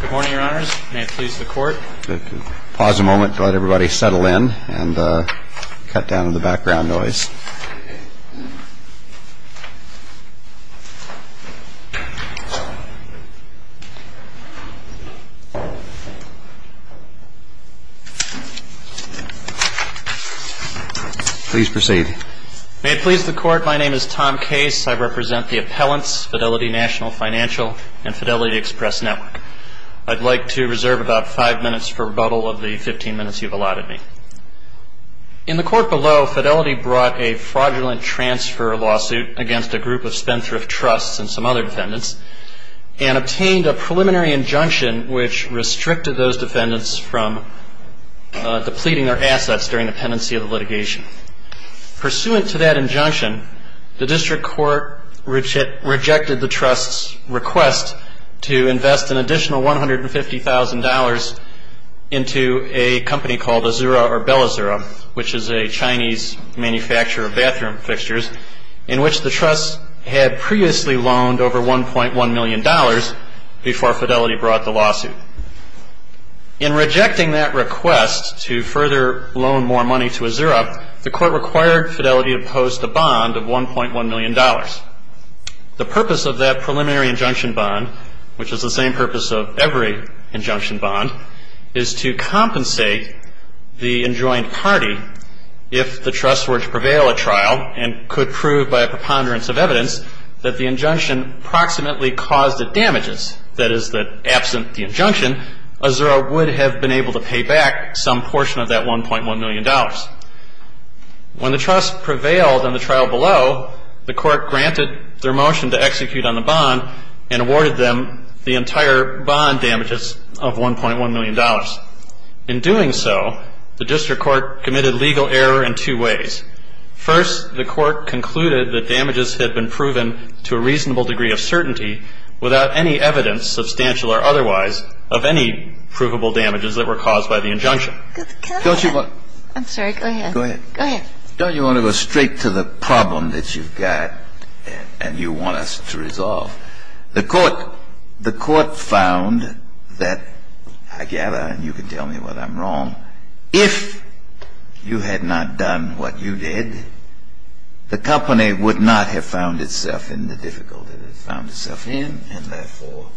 Good morning, Your Honors. May it please the Court. Pause a moment to let everybody settle in and cut down on the background noise. Please proceed. May it please the Court. My name is Tom Case. I represent the appellants, Fidelity National Financial and Fidelity Express Network. I'd like to reserve about five minutes for rebuttal of the 15 minutes you've allotted me. In the Court below, Fidelity brought a fraudulent transfer lawsuit against a group of Spendthrift Trusts and some other defendants and obtained a preliminary injunction which restricted those defendants from depleting their assets during the pendency of the litigation. Pursuant to that injunction, the District Court rejected the Trust's request to invest an additional $150,000 into a company called Azura or BelAzura, which is a Chinese manufacturer of bathroom fixtures, in which the Trust had previously loaned over $1.1 million before Fidelity brought the lawsuit. In rejecting that request to further loan more money to Azura, the Court required Fidelity to post a bond of $1.1 million. The purpose of that preliminary injunction bond, which is the same purpose of every injunction bond, is to compensate the enjoined party if the Trust were to prevail at trial and could prove by a preponderance of evidence that the injunction approximately caused the damages, that is, that absent the injunction, Azura would have been able to pay back some portion of that $1.1 million. When the Trust prevailed in the trial below, the Court granted their motion to execute on the bond and awarded them the entire bond damages of $1.1 million. In doing so, the District Court committed legal error in two ways. First, the Court concluded that damages had been proven to a reasonable degree of certainty without any evidence, substantial or otherwise, of any provable damages that were caused by the injunction. I'm sorry, go ahead. Go ahead. Go ahead. Don't you want to go straight to the problem that you've got and you want us to resolve? The Court found that, I gather, and you can tell me whether I'm wrong, if you had not done what you did, the company would not have found itself in the difficulty that it found itself in, and therefore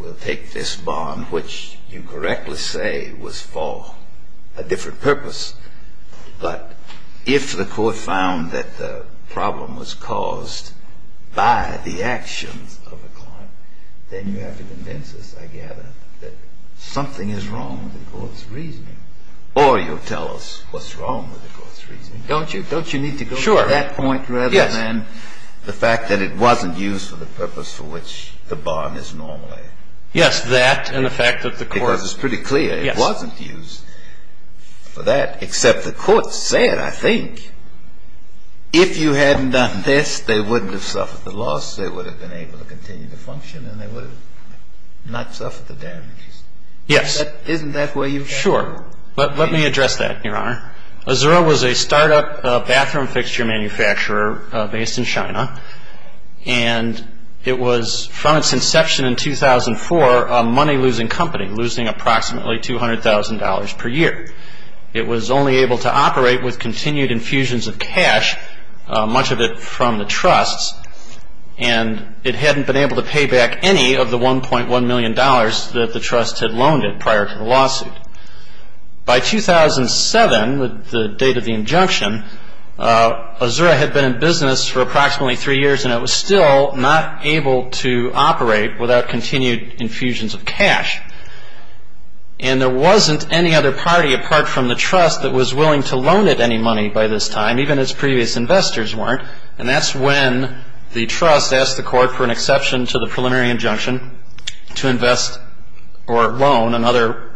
will take this bond, which you correctly say was for a different purpose. But if the Court found that the problem was caused by the actions of a client, then you have to convince us, I gather, that something is wrong with the Court's reasoning. Or you'll tell us what's wrong with the Court's reasoning. Don't you? Don't you need to go to that point rather than the fact that it wasn't used for the purpose for which the bond is normally? Yes, that and the fact that the Court – Because it's pretty clear it wasn't used for that. Except the Court said, I think, if you hadn't done this, they wouldn't have suffered the loss, they would have been able to continue to function, and they would have not suffered the damages. Yes. Isn't that where you're at? Sure. Let me address that, Your Honor. Azura was a startup bathroom fixture manufacturer based in China, and it was from its inception in 2004 money-losing company, losing approximately $200,000 per year. It was only able to operate with continued infusions of cash, much of it from the trusts, and it hadn't been able to pay back any of the $1.1 million that the trusts had loaned it prior to the lawsuit. By 2007, the date of the injunction, Azura had been in business for approximately three years, and it was still not able to operate without continued infusions of cash. And there wasn't any other party apart from the trust that was willing to loan it any money by this time, even its previous investors weren't, and that's when the trust asked the Court for an exception to the preliminary injunction to invest or loan another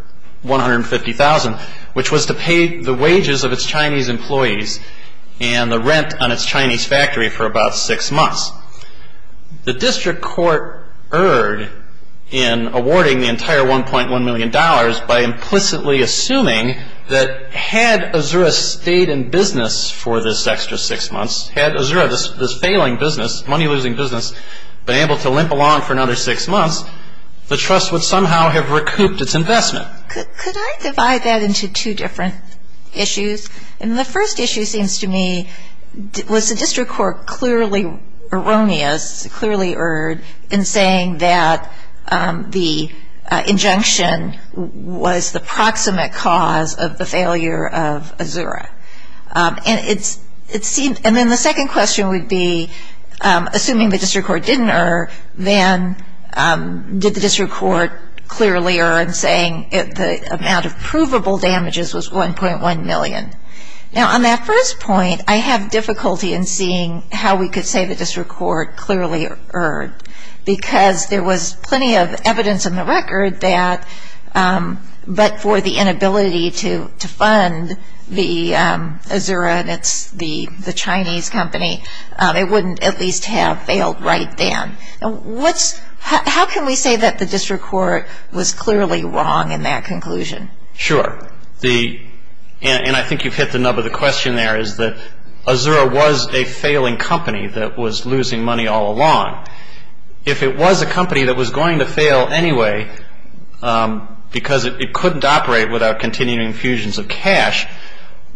$150,000, which was to pay the wages of its Chinese employees and the rent on its Chinese factory for about six months. The district court erred in awarding the entire $1.1 million by implicitly assuming that had Azura stayed in business for this extra six months, had Azura, this failing business, money-losing business, been able to limp along for another six months, the trust would somehow have recouped its investment. Could I divide that into two different issues? And the first issue seems to me, was the district court clearly erroneous, clearly erred in saying that the injunction was the proximate cause of the failure of Azura? And then the second question would be, assuming the district court didn't err, then did the district court clearly err in saying the amount of provable damages was $1.1 million? Now, on that first point, I have difficulty in seeing how we could say the district court clearly erred, because there was plenty of evidence in the record that, but for the inability to fund the Azura, and it's the Chinese company, it wouldn't at least have failed right then. How can we say that the district court was clearly wrong in that conclusion? Sure. And I think you've hit the nub of the question there, is that Azura was a failing company that was losing money all along. If it was a company that was going to fail anyway, because it couldn't operate without continuing infusions of cash,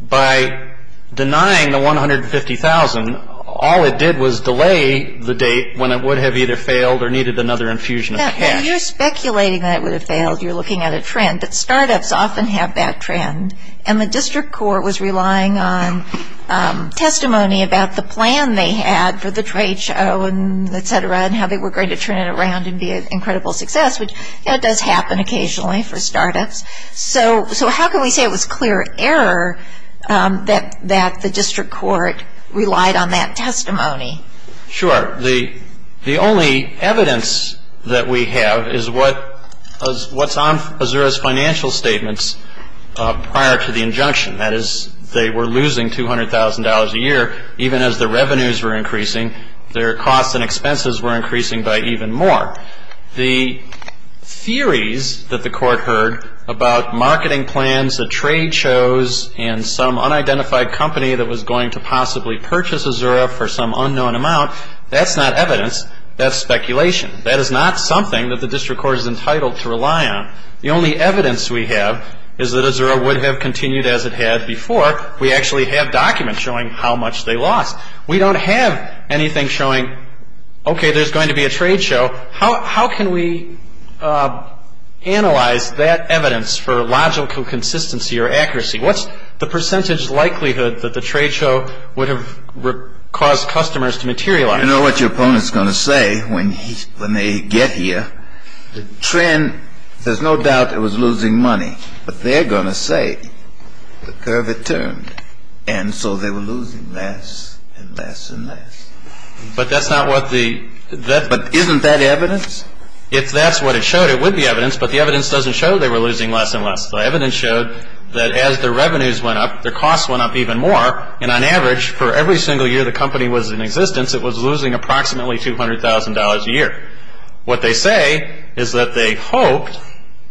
by denying the $150,000, all it did was delay the date when it would have either failed or needed another infusion of cash. Yeah, but you're speculating that it would have failed. You're looking at a trend. But start-ups often have that trend, and the district court was relying on testimony about the plan they had for the trade show, and et cetera, and how they were going to turn it around and be an incredible success, which does happen occasionally for start-ups. So how can we say it was clear error that the district court relied on that testimony? Sure. The only evidence that we have is what's on Azura's financial statements prior to the injunction. That is, they were losing $200,000 a year even as the revenues were increasing. Their costs and expenses were increasing by even more. The theories that the court heard about marketing plans at trade shows and some unidentified company that was going to possibly purchase Azura for some unknown amount, that's not evidence. That's speculation. That is not something that the district court is entitled to rely on. The only evidence we have is that Azura would have continued as it had before. We actually have documents showing how much they lost. We don't have anything showing, okay, there's going to be a trade show. So how can we analyze that evidence for logical consistency or accuracy? What's the percentage likelihood that the trade show would have caused customers to materialize? You know what your opponent's going to say when they get here. The trend, there's no doubt it was losing money. But they're going to say the curve had turned, and so they were losing less and less and less. But that's not what the __________. But isn't that evidence? If that's what it showed, it would be evidence, but the evidence doesn't show they were losing less and less. The evidence showed that as their revenues went up, their costs went up even more, and on average for every single year the company was in existence, it was losing approximately $200,000 a year. What they say is that they hoped,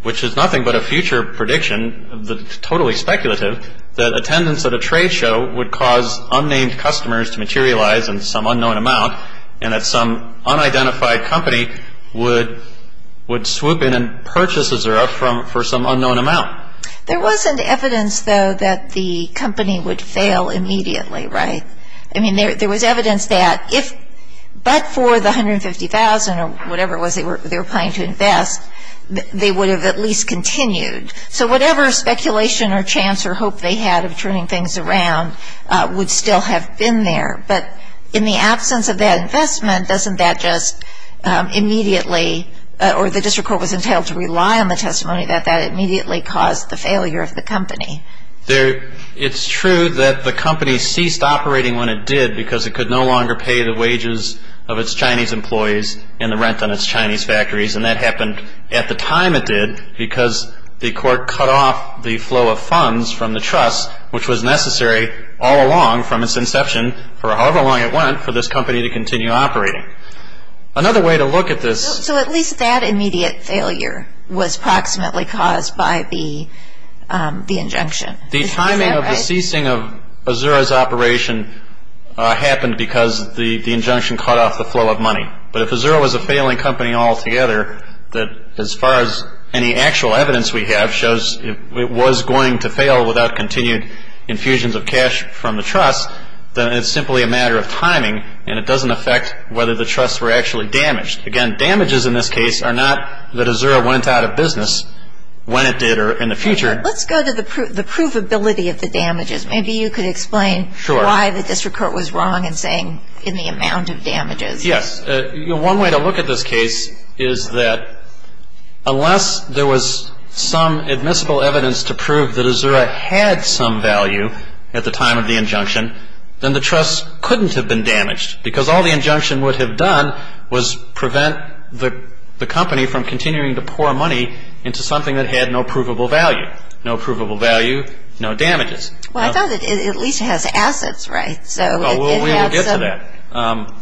which is nothing but a future prediction, totally speculative, that attendance at a trade show would cause unnamed customers to materialize in some unknown amount and that some unidentified company would swoop in and purchase as they're up for some unknown amount. There wasn't evidence, though, that the company would fail immediately, right? I mean, there was evidence that if but for the $150,000 or whatever it was they were planning to invest, they would have at least continued. So whatever speculation or chance or hope they had of turning things around would still have been there. But in the absence of that investment, doesn't that just immediately or the district court was entailed to rely on the testimony that that immediately caused the failure of the company? It's true that the company ceased operating when it did because it could no longer pay the wages of its Chinese employees and the rent on its Chinese factories, and that happened at the time it did because the court cut off the flow of funds from the trust, which was necessary all along from its inception for however long it went for this company to continue operating. Another way to look at this... So at least that immediate failure was approximately caused by the injunction. The timing of the ceasing of Azura's operation happened because the injunction cut off the flow of money. But if Azura was a failing company altogether, as far as any actual evidence we have shows it was going to fail without continued infusions of cash from the trust, then it's simply a matter of timing and it doesn't affect whether the trust were actually damaged. Again, damages in this case are not that Azura went out of business when it did or in the future. Let's go to the provability of the damages. Maybe you could explain why the district court was wrong in saying in the amount of damages. Yes. One way to look at this case is that unless there was some admissible evidence to prove that Azura had some value at the time of the injunction, then the trust couldn't have been damaged because all the injunction would have done was prevent the company from continuing to pour money into something that had no provable value. No provable value, no damages. Well, I thought it at least has assets, right? Well, we'll get to that.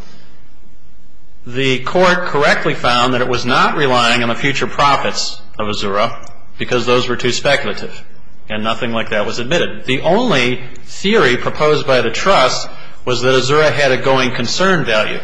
The court correctly found that it was not relying on the future profits of Azura because those were too speculative and nothing like that was admitted. The only theory proposed by the trust was that Azura had a going concern value.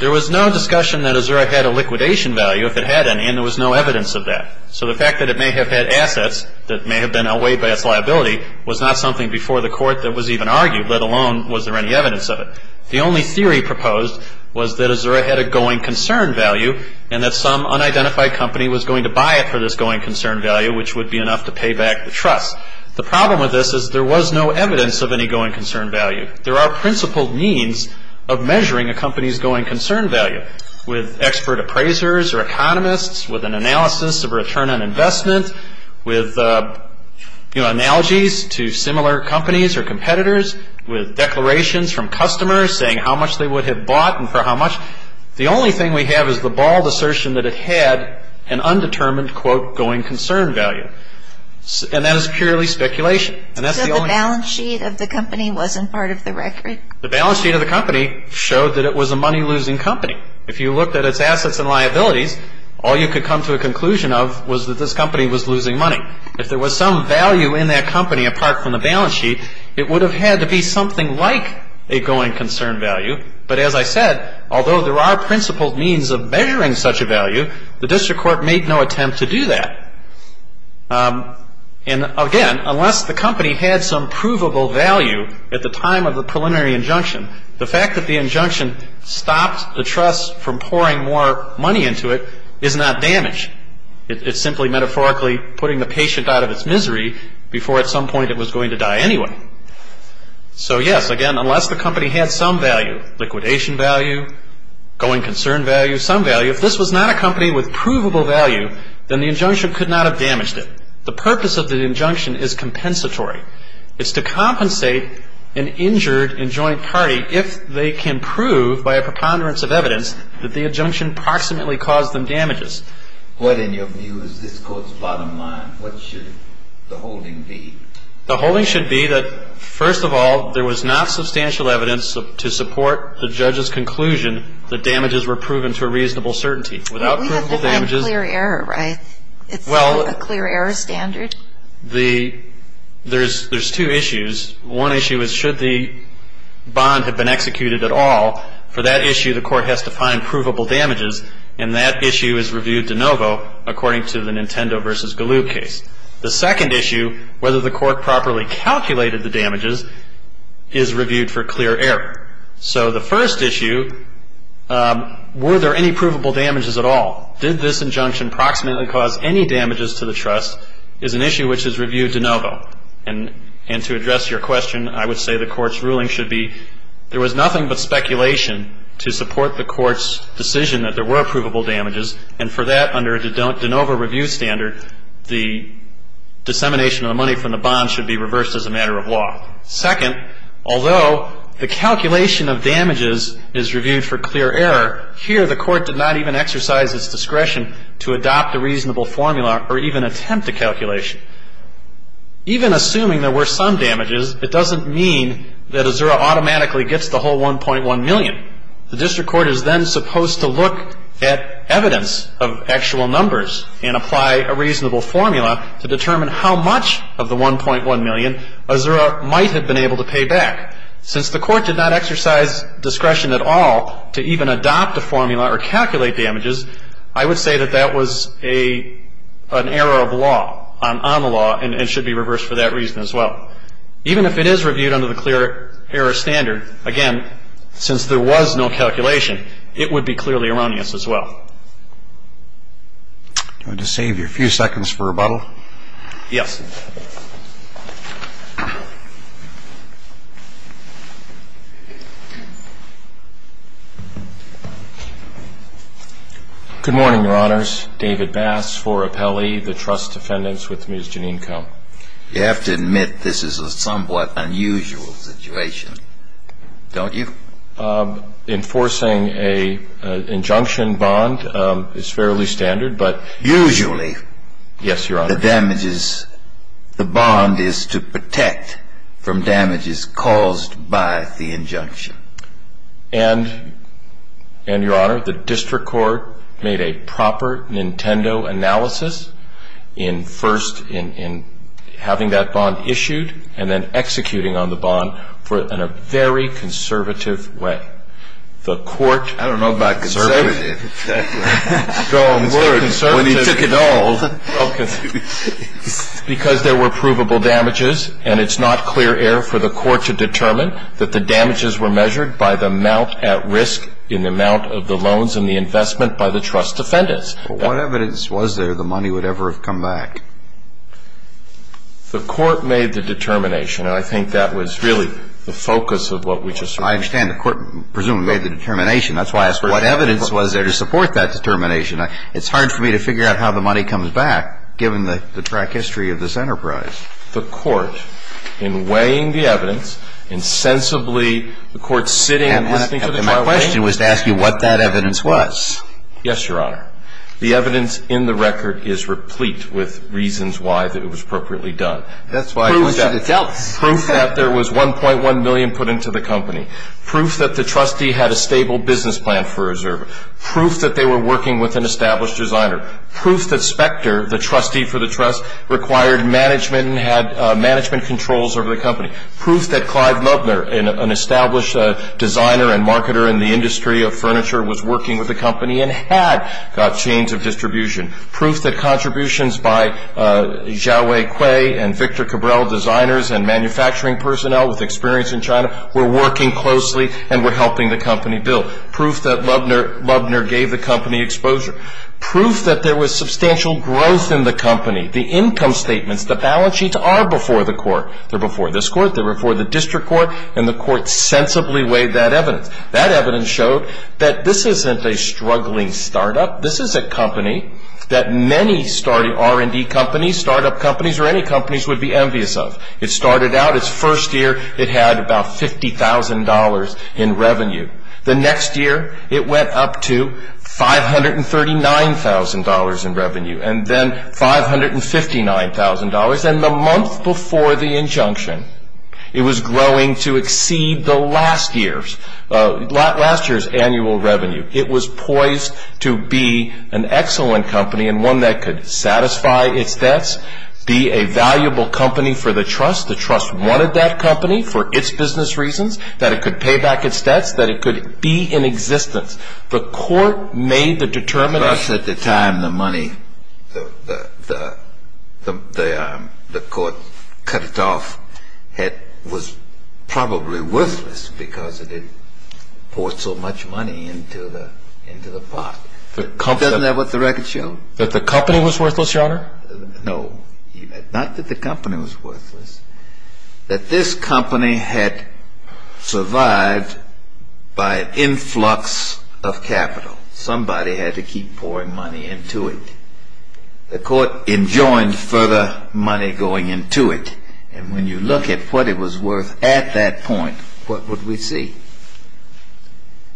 There was no discussion that Azura had a liquidation value if it had any, and there was no evidence of that. So the fact that it may have had assets that may have been away by its liability was not something before the court that was even argued, let alone was there any evidence of it. The only theory proposed was that Azura had a going concern value and that some unidentified company was going to buy it for this going concern value, which would be enough to pay back the trust. The problem with this is there was no evidence of any going concern value. There are principled means of measuring a company's going concern value with expert appraisers or economists, with an analysis of return on investment, with, you know, analogies to similar companies or competitors, with declarations from customers saying how much they would have bought and for how much. The only thing we have is the bald assertion that it had an undetermined, quote, going concern value. And that is purely speculation, and that's the only... So the balance sheet of the company wasn't part of the record? The balance sheet of the company showed that it was a money-losing company. If you looked at its assets and liabilities, all you could come to a conclusion of was that this company was losing money. If there was some value in that company apart from the balance sheet, it would have had to be something like a going concern value. But as I said, although there are principled means of measuring such a value, the district court made no attempt to do that. And again, unless the company had some provable value at the time of the preliminary injunction, the fact that the injunction stopped the trust from pouring more money into it is not damage. It's simply metaphorically putting the patient out of its misery before at some point it was going to die anyway. So yes, again, unless the company had some value, liquidation value, going concern value, some value, if this was not a company with provable value, then the injunction could not have damaged it. The purpose of the injunction is compensatory. It's to compensate an injured and joint party if they can prove by a preponderance of evidence that the injunction proximately caused them damages. What, in your views, is this Court's bottom line? What should the holding be? The holding should be that, first of all, there was not substantial evidence to support the judge's conclusion that damages were proven to a reasonable certainty. But we have to find clear error, right? It's a clear error standard. Well, there's two issues. One issue is should the bond have been executed at all. For that issue, the Court has to find provable damages. And that issue is reviewed de novo according to the Nintendo v. Galoo case. The second issue, whether the Court properly calculated the damages, is reviewed for clear error. So the first issue, were there any provable damages at all? Did this injunction proximately cause any damages to the trust, is an issue which is reviewed de novo. And to address your question, I would say the Court's ruling should be there was nothing but speculation to support the Court's decision that there were provable damages. And for that, under a de novo review standard, the dissemination of the money from the bond should be reversed as a matter of law. Second, although the calculation of damages is reviewed for clear error, here the Court did not even exercise its discretion to adopt a reasonable formula or even attempt a calculation. Even assuming there were some damages, it doesn't mean that Azura automatically gets the whole $1.1 million. The District Court is then supposed to look at evidence of actual numbers and apply a reasonable formula to determine how much of the $1.1 million Azura might have been able to pay back. Since the Court did not exercise discretion at all to even adopt a formula or calculate damages, I would say that that was an error of law, on the law, and should be reversed for that reason as well. Even if it is reviewed under the clear error standard, again, since there was no calculation, it would be clearly erroneous as well. Do you want to save your few seconds for rebuttal? Yes. Good morning, Your Honors. David Bass for Appellee. The trust defendants with Ms. Janine Come. You have to admit this is a somewhat unusual situation, don't you? Enforcing an injunction bond is fairly standard, but… Usually… Yes, Your Honor.… the bond is to protect from damages caused by the injunction. And, Your Honor, the District Court made a proper Nintendo analysis in first in having that bond issued and then executing on the bond in a very conservative way. The Court… I don't know about conservative. Strong word. When you took it all. Because there were provable damages, and it's not clear error for the Court to determine that the damages were measured by the amount at risk in the amount of the loans and the investment by the trust defendants. But what evidence was there the money would ever have come back? The Court made the determination, and I think that was really the focus of what we just heard. I understand. The Court presumably made the determination. That's why I asked what evidence was there to support that determination. It's hard for me to figure out how the money comes back, given the track history of this enterprise. The Court, in weighing the evidence, insensibly, the Court sitting and listening to the trial… And my question was to ask you what that evidence was. Yes, Your Honor. The evidence in the record is replete with reasons why that it was appropriately done. That's why you should have dealt with it. Proof that there was $1.1 million put into the company. Proof that the trustee had a stable business plan for a reserve. Proof that they were working with an established designer. Proof that Specter, the trustee for the trust, required management and had management controls over the company. Proof that Clive Lubner, an established designer and marketer in the industry of furniture, was working with the company and had got chains of distribution. Proof that contributions by Xiaowei Kui and Victor Cabral, designers and manufacturing personnel with experience in China, were working closely and were helping the company build. Proof that Lubner gave the company exposure. Proof that there was substantial growth in the company. The income statements, the balance sheets, are before the court. They're before this court, they're before the district court, and the court sensibly weighed that evidence. That evidence showed that this isn't a struggling startup. This is a company that many starting R&D companies, startup companies, or any companies would be envious of. It started out, its first year, it had about $50,000 in revenue. The next year, it went up to $539,000 in revenue, and then $559,000. And the month before the injunction, it was growing to exceed the last year's annual revenue. It was poised to be an excellent company and one that could satisfy its debts, be a valuable company for the trust. The trust wanted that company for its business reasons, that it could pay back its debts, that it could be in existence. The court made the determination. At the time, the money, the court cut it off. It was probably worthless because it had poured so much money into the pot. Isn't that what the record showed? That the company was worthless, Your Honor? No, not that the company was worthless. That this company had survived by an influx of capital. Somebody had to keep pouring money into it. The court enjoined further money going into it. And when you look at what it was worth at that point, what would we see?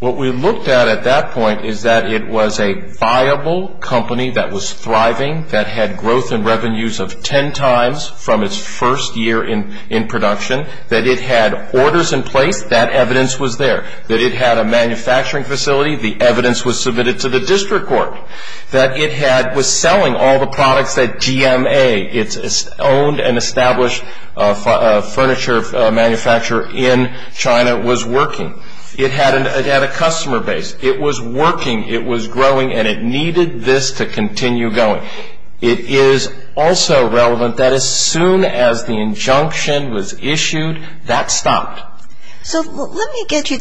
What we looked at at that point is that it was a viable company that was thriving, that had growth in revenues of 10 times from its first year in production, that it had orders in place, that evidence was there, that it had a manufacturing facility, the evidence was submitted to the district court, that it was selling all the products that GMA, its owned and established furniture manufacturer in China, was working. It had a customer base. It was working, it was growing, and it needed this to continue going. It is also relevant that as soon as the injunction was issued, that stopped. So let me get you,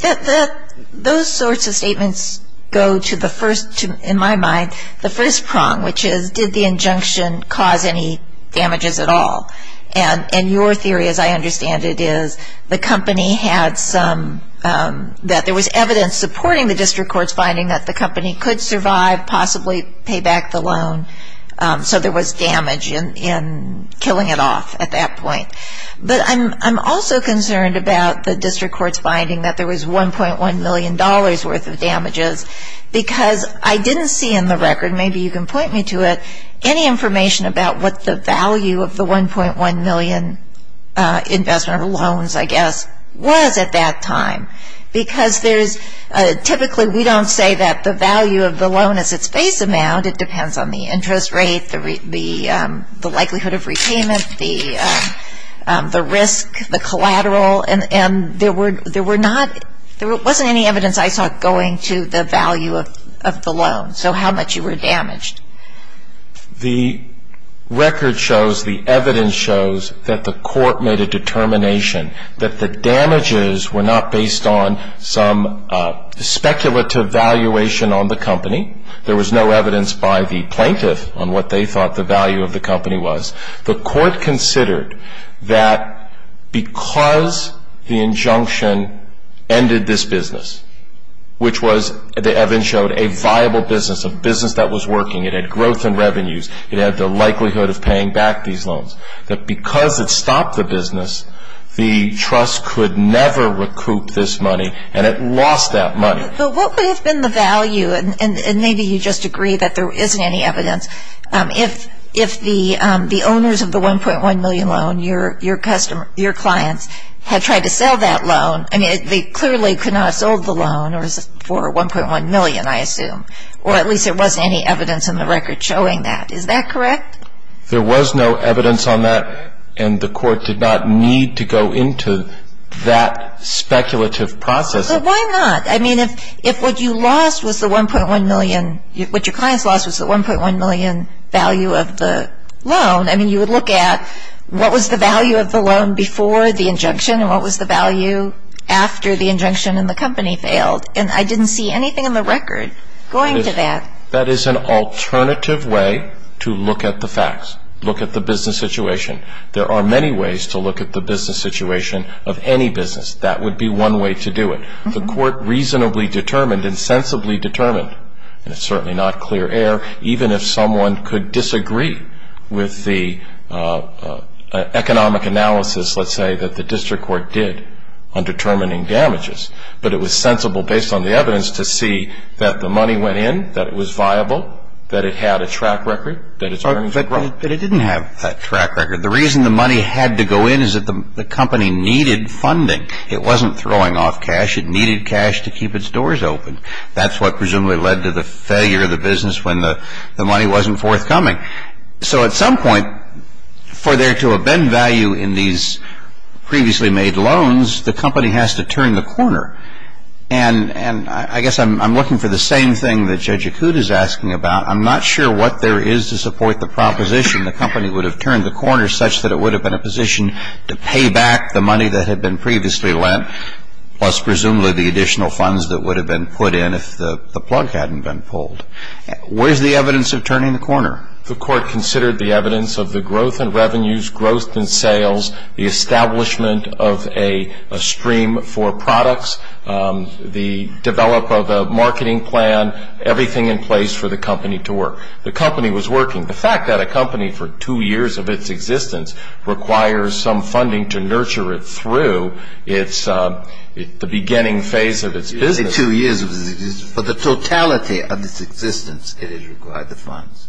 those sorts of statements go to the first, in my mind, the first prong, which is did the injunction cause any damages at all? And your theory, as I understand it, is the company had some, that there was evidence supporting the district court's finding that the company could survive, possibly pay back the loan, so there was damage in killing it off at that point. But I'm also concerned about the district court's finding that there was $1.1 million worth of damages because I didn't see in the record, maybe you can point me to it, any information about what the value of the $1.1 million investment or loans, I guess, was at that time. Because there's, typically we don't say that the value of the loan is its base amount. It depends on the interest rate, the likelihood of repayment, the risk, the collateral, and there were not, there wasn't any evidence I saw going to the value of the loan. So how much you were damaged? The record shows, the evidence shows that the court made a determination that the damages were not based on some speculative valuation on the company. There was no evidence by the plaintiff on what they thought the value of the company was. The court considered that because the injunction ended this business, which was, the evidence showed, a viable business, a business that was working, it had growth in revenues, it had the likelihood of paying back these loans, that because it stopped the business, the trust could never recoup this money and it lost that money. But what would have been the value, and maybe you just agree that there isn't any evidence, if the owners of the $1.1 million loan, your clients, had tried to sell that loan, I mean, they clearly could not have sold the loan for $1.1 million, I assume, or at least there wasn't any evidence in the record showing that. Is that correct? There was no evidence on that, and the court did not need to go into that speculative process. So why not? I mean, if what you lost was the $1.1 million, what your clients lost was the $1.1 million value of the loan, I mean, you would look at what was the value of the loan before the injunction and what was the value after the injunction and the company failed, and I didn't see anything in the record going to that. That is an alternative way to look at the facts, look at the business situation. There are many ways to look at the business situation of any business. That would be one way to do it. The court reasonably determined and sensibly determined, and it's certainly not clear air, even if someone could disagree with the economic analysis, let's say, that the district court did on determining damages, but it was sensible based on the evidence to see that the money went in, that it was viable, that it had a track record, that its earnings were growing. But it didn't have a track record. The reason the money had to go in is that the company needed funding. It wasn't throwing off cash. It needed cash to keep its doors open. That's what presumably led to the failure of the business when the money wasn't forthcoming. So at some point, for there to have been value in these previously made loans, the company has to turn the corner, and I guess I'm looking for the same thing that Judge Acuda is asking about. I'm not sure what there is to support the proposition the company would have turned the corner such that it would have been a position to pay back the money that had been previously lent, plus presumably the additional funds that would have been put in if the plug hadn't been pulled. Where's the evidence of turning the corner? The court considered the evidence of the growth in revenues, growth in sales, the establishment of a stream for products, the development of a marketing plan, everything in place for the company to work. The company was working. The fact that a company for two years of its existence requires some funding to nurture it through the beginning phase of its business. You say two years of its existence. For the totality of its existence, it has required the funds.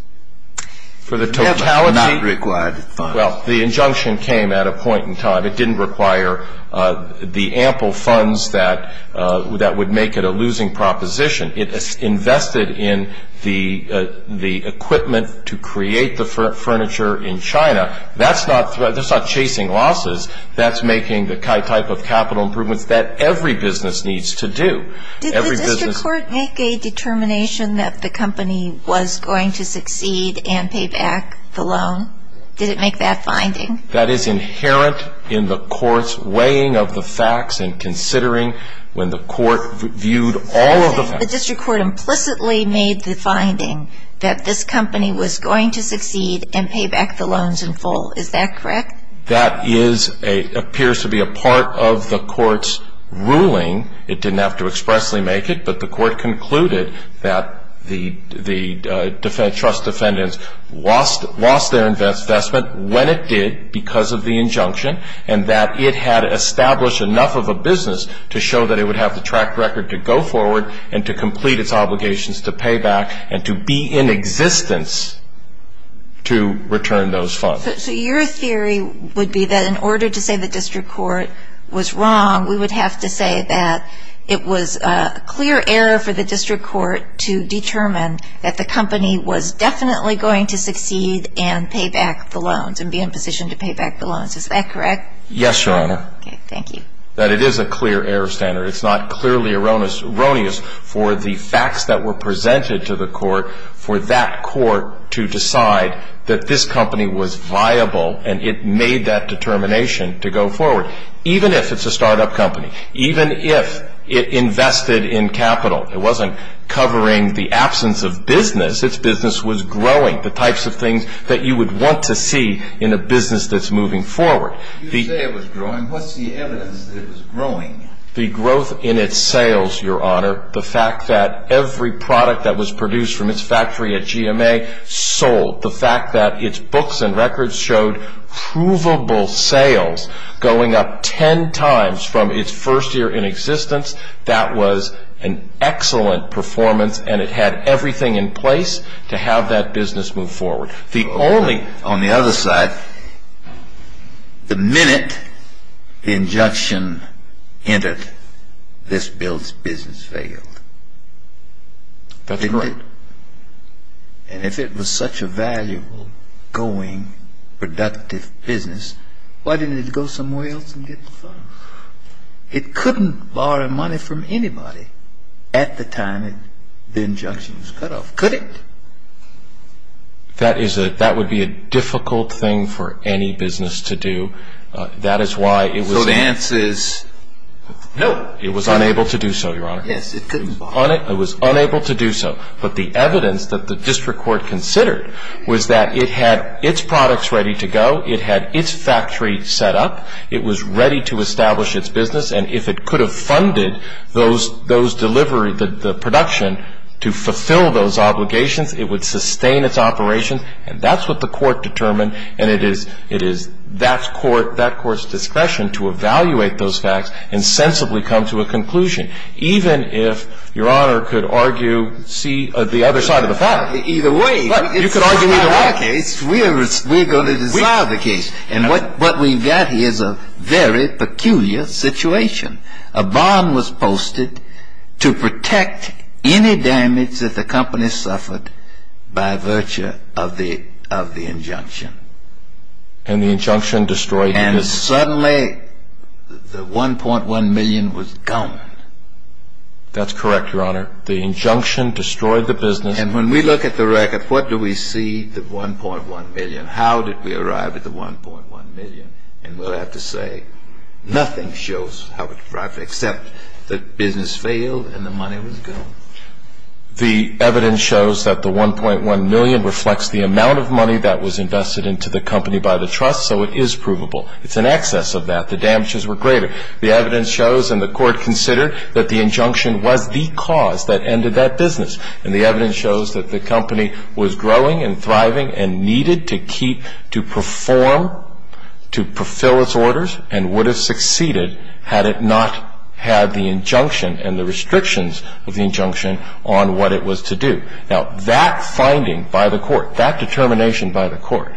For the totality? It never had not required the funds. Well, the injunction came at a point in time. It didn't require the ample funds that would make it a losing proposition. It invested in the equipment to create the furniture in China. That's not chasing losses. That's making the type of capital improvements that every business needs to do. Did the district court make a determination that the company was going to succeed and pay back the loan? Did it make that finding? That is inherent in the court's weighing of the facts and considering when the court viewed all of the facts. The district court implicitly made the finding that this company was going to succeed and pay back the loans in full. Is that correct? That appears to be a part of the court's ruling. It didn't have to expressly make it, but the court concluded that the trust defendants lost their investment when it did because of the injunction and that it had established enough of a business to show that it would have the track record to go forward and to complete its obligations to pay back and to be in existence to return those funds. So your theory would be that in order to say the district court was wrong, we would have to say that it was a clear error for the district court to determine that the company was definitely going to succeed and pay back the loans and be in a position to pay back the loans. Is that correct? Yes, Your Honor. Okay, thank you. That it is a clear error standard. It's not clearly erroneous for the facts that were presented to the court for that court to decide that this company was viable and it made that determination to go forward, even if it's a start-up company, even if it invested in capital. It wasn't covering the absence of business. Its business was growing, the types of things that you would want to see in a business that's moving forward. You say it was growing. What's the evidence that it was growing? The growth in its sales, Your Honor. The fact that every product that was produced from its factory at GMA sold. The fact that its books and records showed provable sales going up ten times from its first year in existence, that was an excellent performance and it had everything in place to have that business move forward. The only... On the other side, the minute the injunction entered, this business failed. That's correct. And if it was such a valuable, going, productive business, why didn't it go somewhere else and get the funds? It couldn't borrow money from anybody at the time the injunction was cut off, could it? That would be a difficult thing for any business to do. That is why it was... So the answer is no. It was unable to do so, Your Honor. Yes, it couldn't borrow. It was unable to do so. But the evidence that the district court considered was that it had its products ready to go, it had its factory set up, it was ready to establish its business, and if it could have funded those deliveries, the production, to fulfill those obligations, it would sustain its operations. And that's what the court determined, and it is that court's discretion to evaluate those facts and sensibly come to a conclusion, even if, Your Honor, could argue the other side of the fact. Either way... You could argue either way. In our case, we're going to disavow the case. And what we've got here is a very peculiar situation. A bond was posted to protect any damage that the company suffered by virtue of the injunction. And the injunction destroyed the business. And suddenly the $1.1 million was gone. That's correct, Your Honor. The injunction destroyed the business. And when we look at the record, what do we see the $1.1 million? How did we arrive at the $1.1 million? And we'll have to say nothing shows how it arrived, except that business failed and the money was gone. The evidence shows that the $1.1 million reflects the amount of money that was invested into the company by the trust, so it is provable. It's an excess of that. The damages were greater. The evidence shows, and the court considered, that the injunction was the cause that ended that business. And the evidence shows that the company was growing and thriving and needed to keep, to perform, to fulfill its orders and would have succeeded had it not had the injunction and the restrictions of the injunction on what it was to do. Now, that finding by the court, that determination by the court,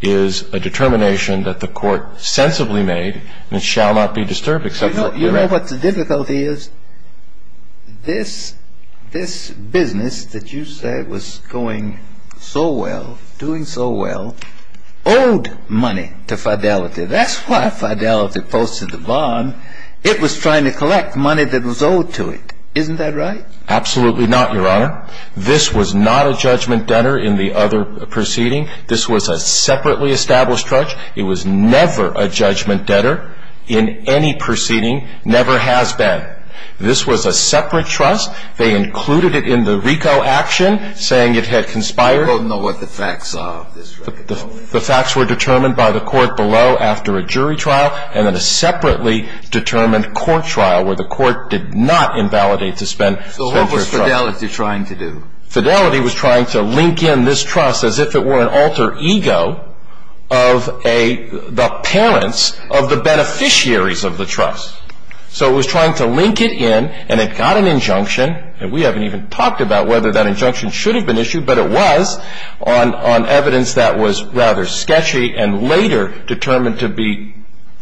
is a determination that the court sensibly made and shall not be disturbed, except for the correctness. You know what the difficulty is? This business that you said was going so well, doing so well, owed money to Fidelity. That's why Fidelity posted the bond. It was trying to collect money that was owed to it. Isn't that right? Absolutely not, Your Honor. This was not a judgment debtor in the other proceeding. This was a separately established trust. It was never a judgment debtor in any proceeding, never has been. This was a separate trust. They included it in the RICO action, saying it had conspired. I don't know what the facts are of this record. The facts were determined by the court below after a jury trial and then a separately determined court trial where the court did not invalidate to spend their trust. So what was Fidelity trying to do? Fidelity was trying to link in this trust as if it were an alter ego of the parents of the beneficiaries of the trust. So it was trying to link it in, and it got an injunction, and we haven't even talked about whether that injunction should have been issued, but it was on evidence that was rather sketchy and later determined to be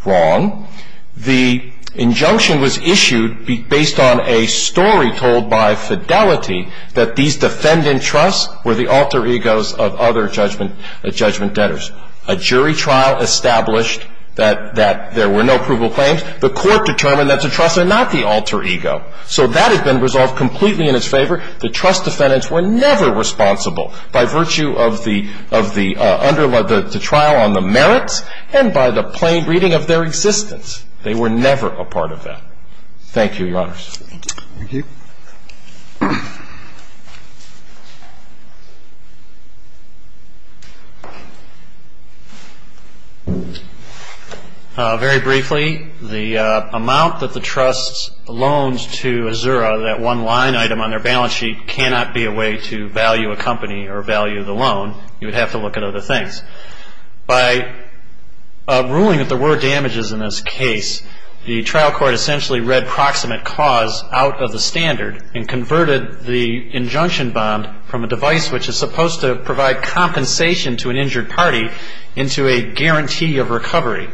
wrong. The injunction was issued based on a story told by Fidelity that these defendant trusts were the alter egos of other judgment debtors. A jury trial established that there were no provable claims. The court determined that the trusts are not the alter ego. So that has been resolved completely in its favor. The trust defendants were never responsible by virtue of the trial on the merits and by the plain reading of their existence. They were never a part of that. Thank you, Your Honors. Thank you. Very briefly, the amount that the trust loans to Azura, that one line item on their balance sheet cannot be a way to value a company or value the loan. You would have to look at other things. By ruling that there were damages in this case, the trial court essentially read proximate cause out of the standard and converted the injunction bond from a device which is supposed to provide compensation to an injured party into a guarantee of recovery.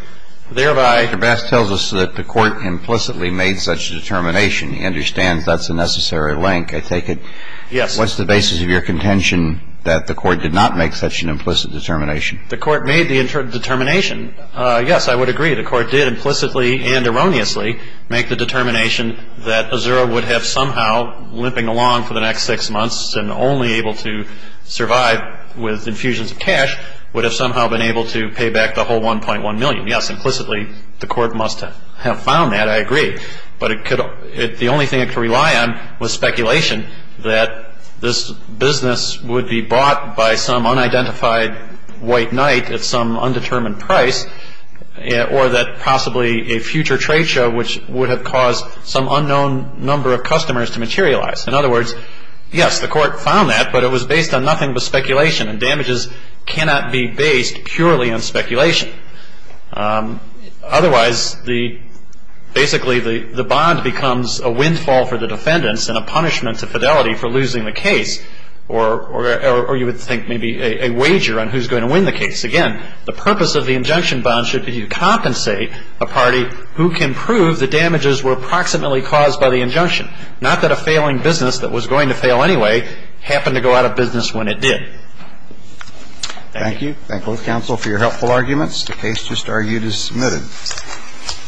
Thereby ---- Mr. Bass tells us that the court implicitly made such a determination. He understands that's a necessary link. I take it ---- Yes. What's the basis of your contention that the court did not make such an implicit determination? The court made the determination. Yes, I would agree the court did implicitly and erroneously make the determination that Azura would have somehow, limping along for the next six months and only able to survive with infusions of cash, would have somehow been able to pay back the whole $1.1 million. Yes, implicitly the court must have found that. I agree. But the only thing it could rely on was speculation that this business would be bought by some unidentified white knight at some undetermined price or that possibly a future trade show which would have caused some unknown number of customers to materialize. In other words, yes, the court found that, but it was based on nothing but speculation and damages cannot be based purely on speculation. Otherwise, basically the bond becomes a windfall for the defendants and a punishment to fidelity for losing the case or you would think maybe a wager on who's going to win the case. Again, the purpose of the injunction bond should be to compensate a party who can prove the damages were approximately caused by the injunction, not that a failing business that was going to fail anyway happened to go out of business when it did. Thank you. Thank both counsel for your helpful arguments. The case just argued is submitted.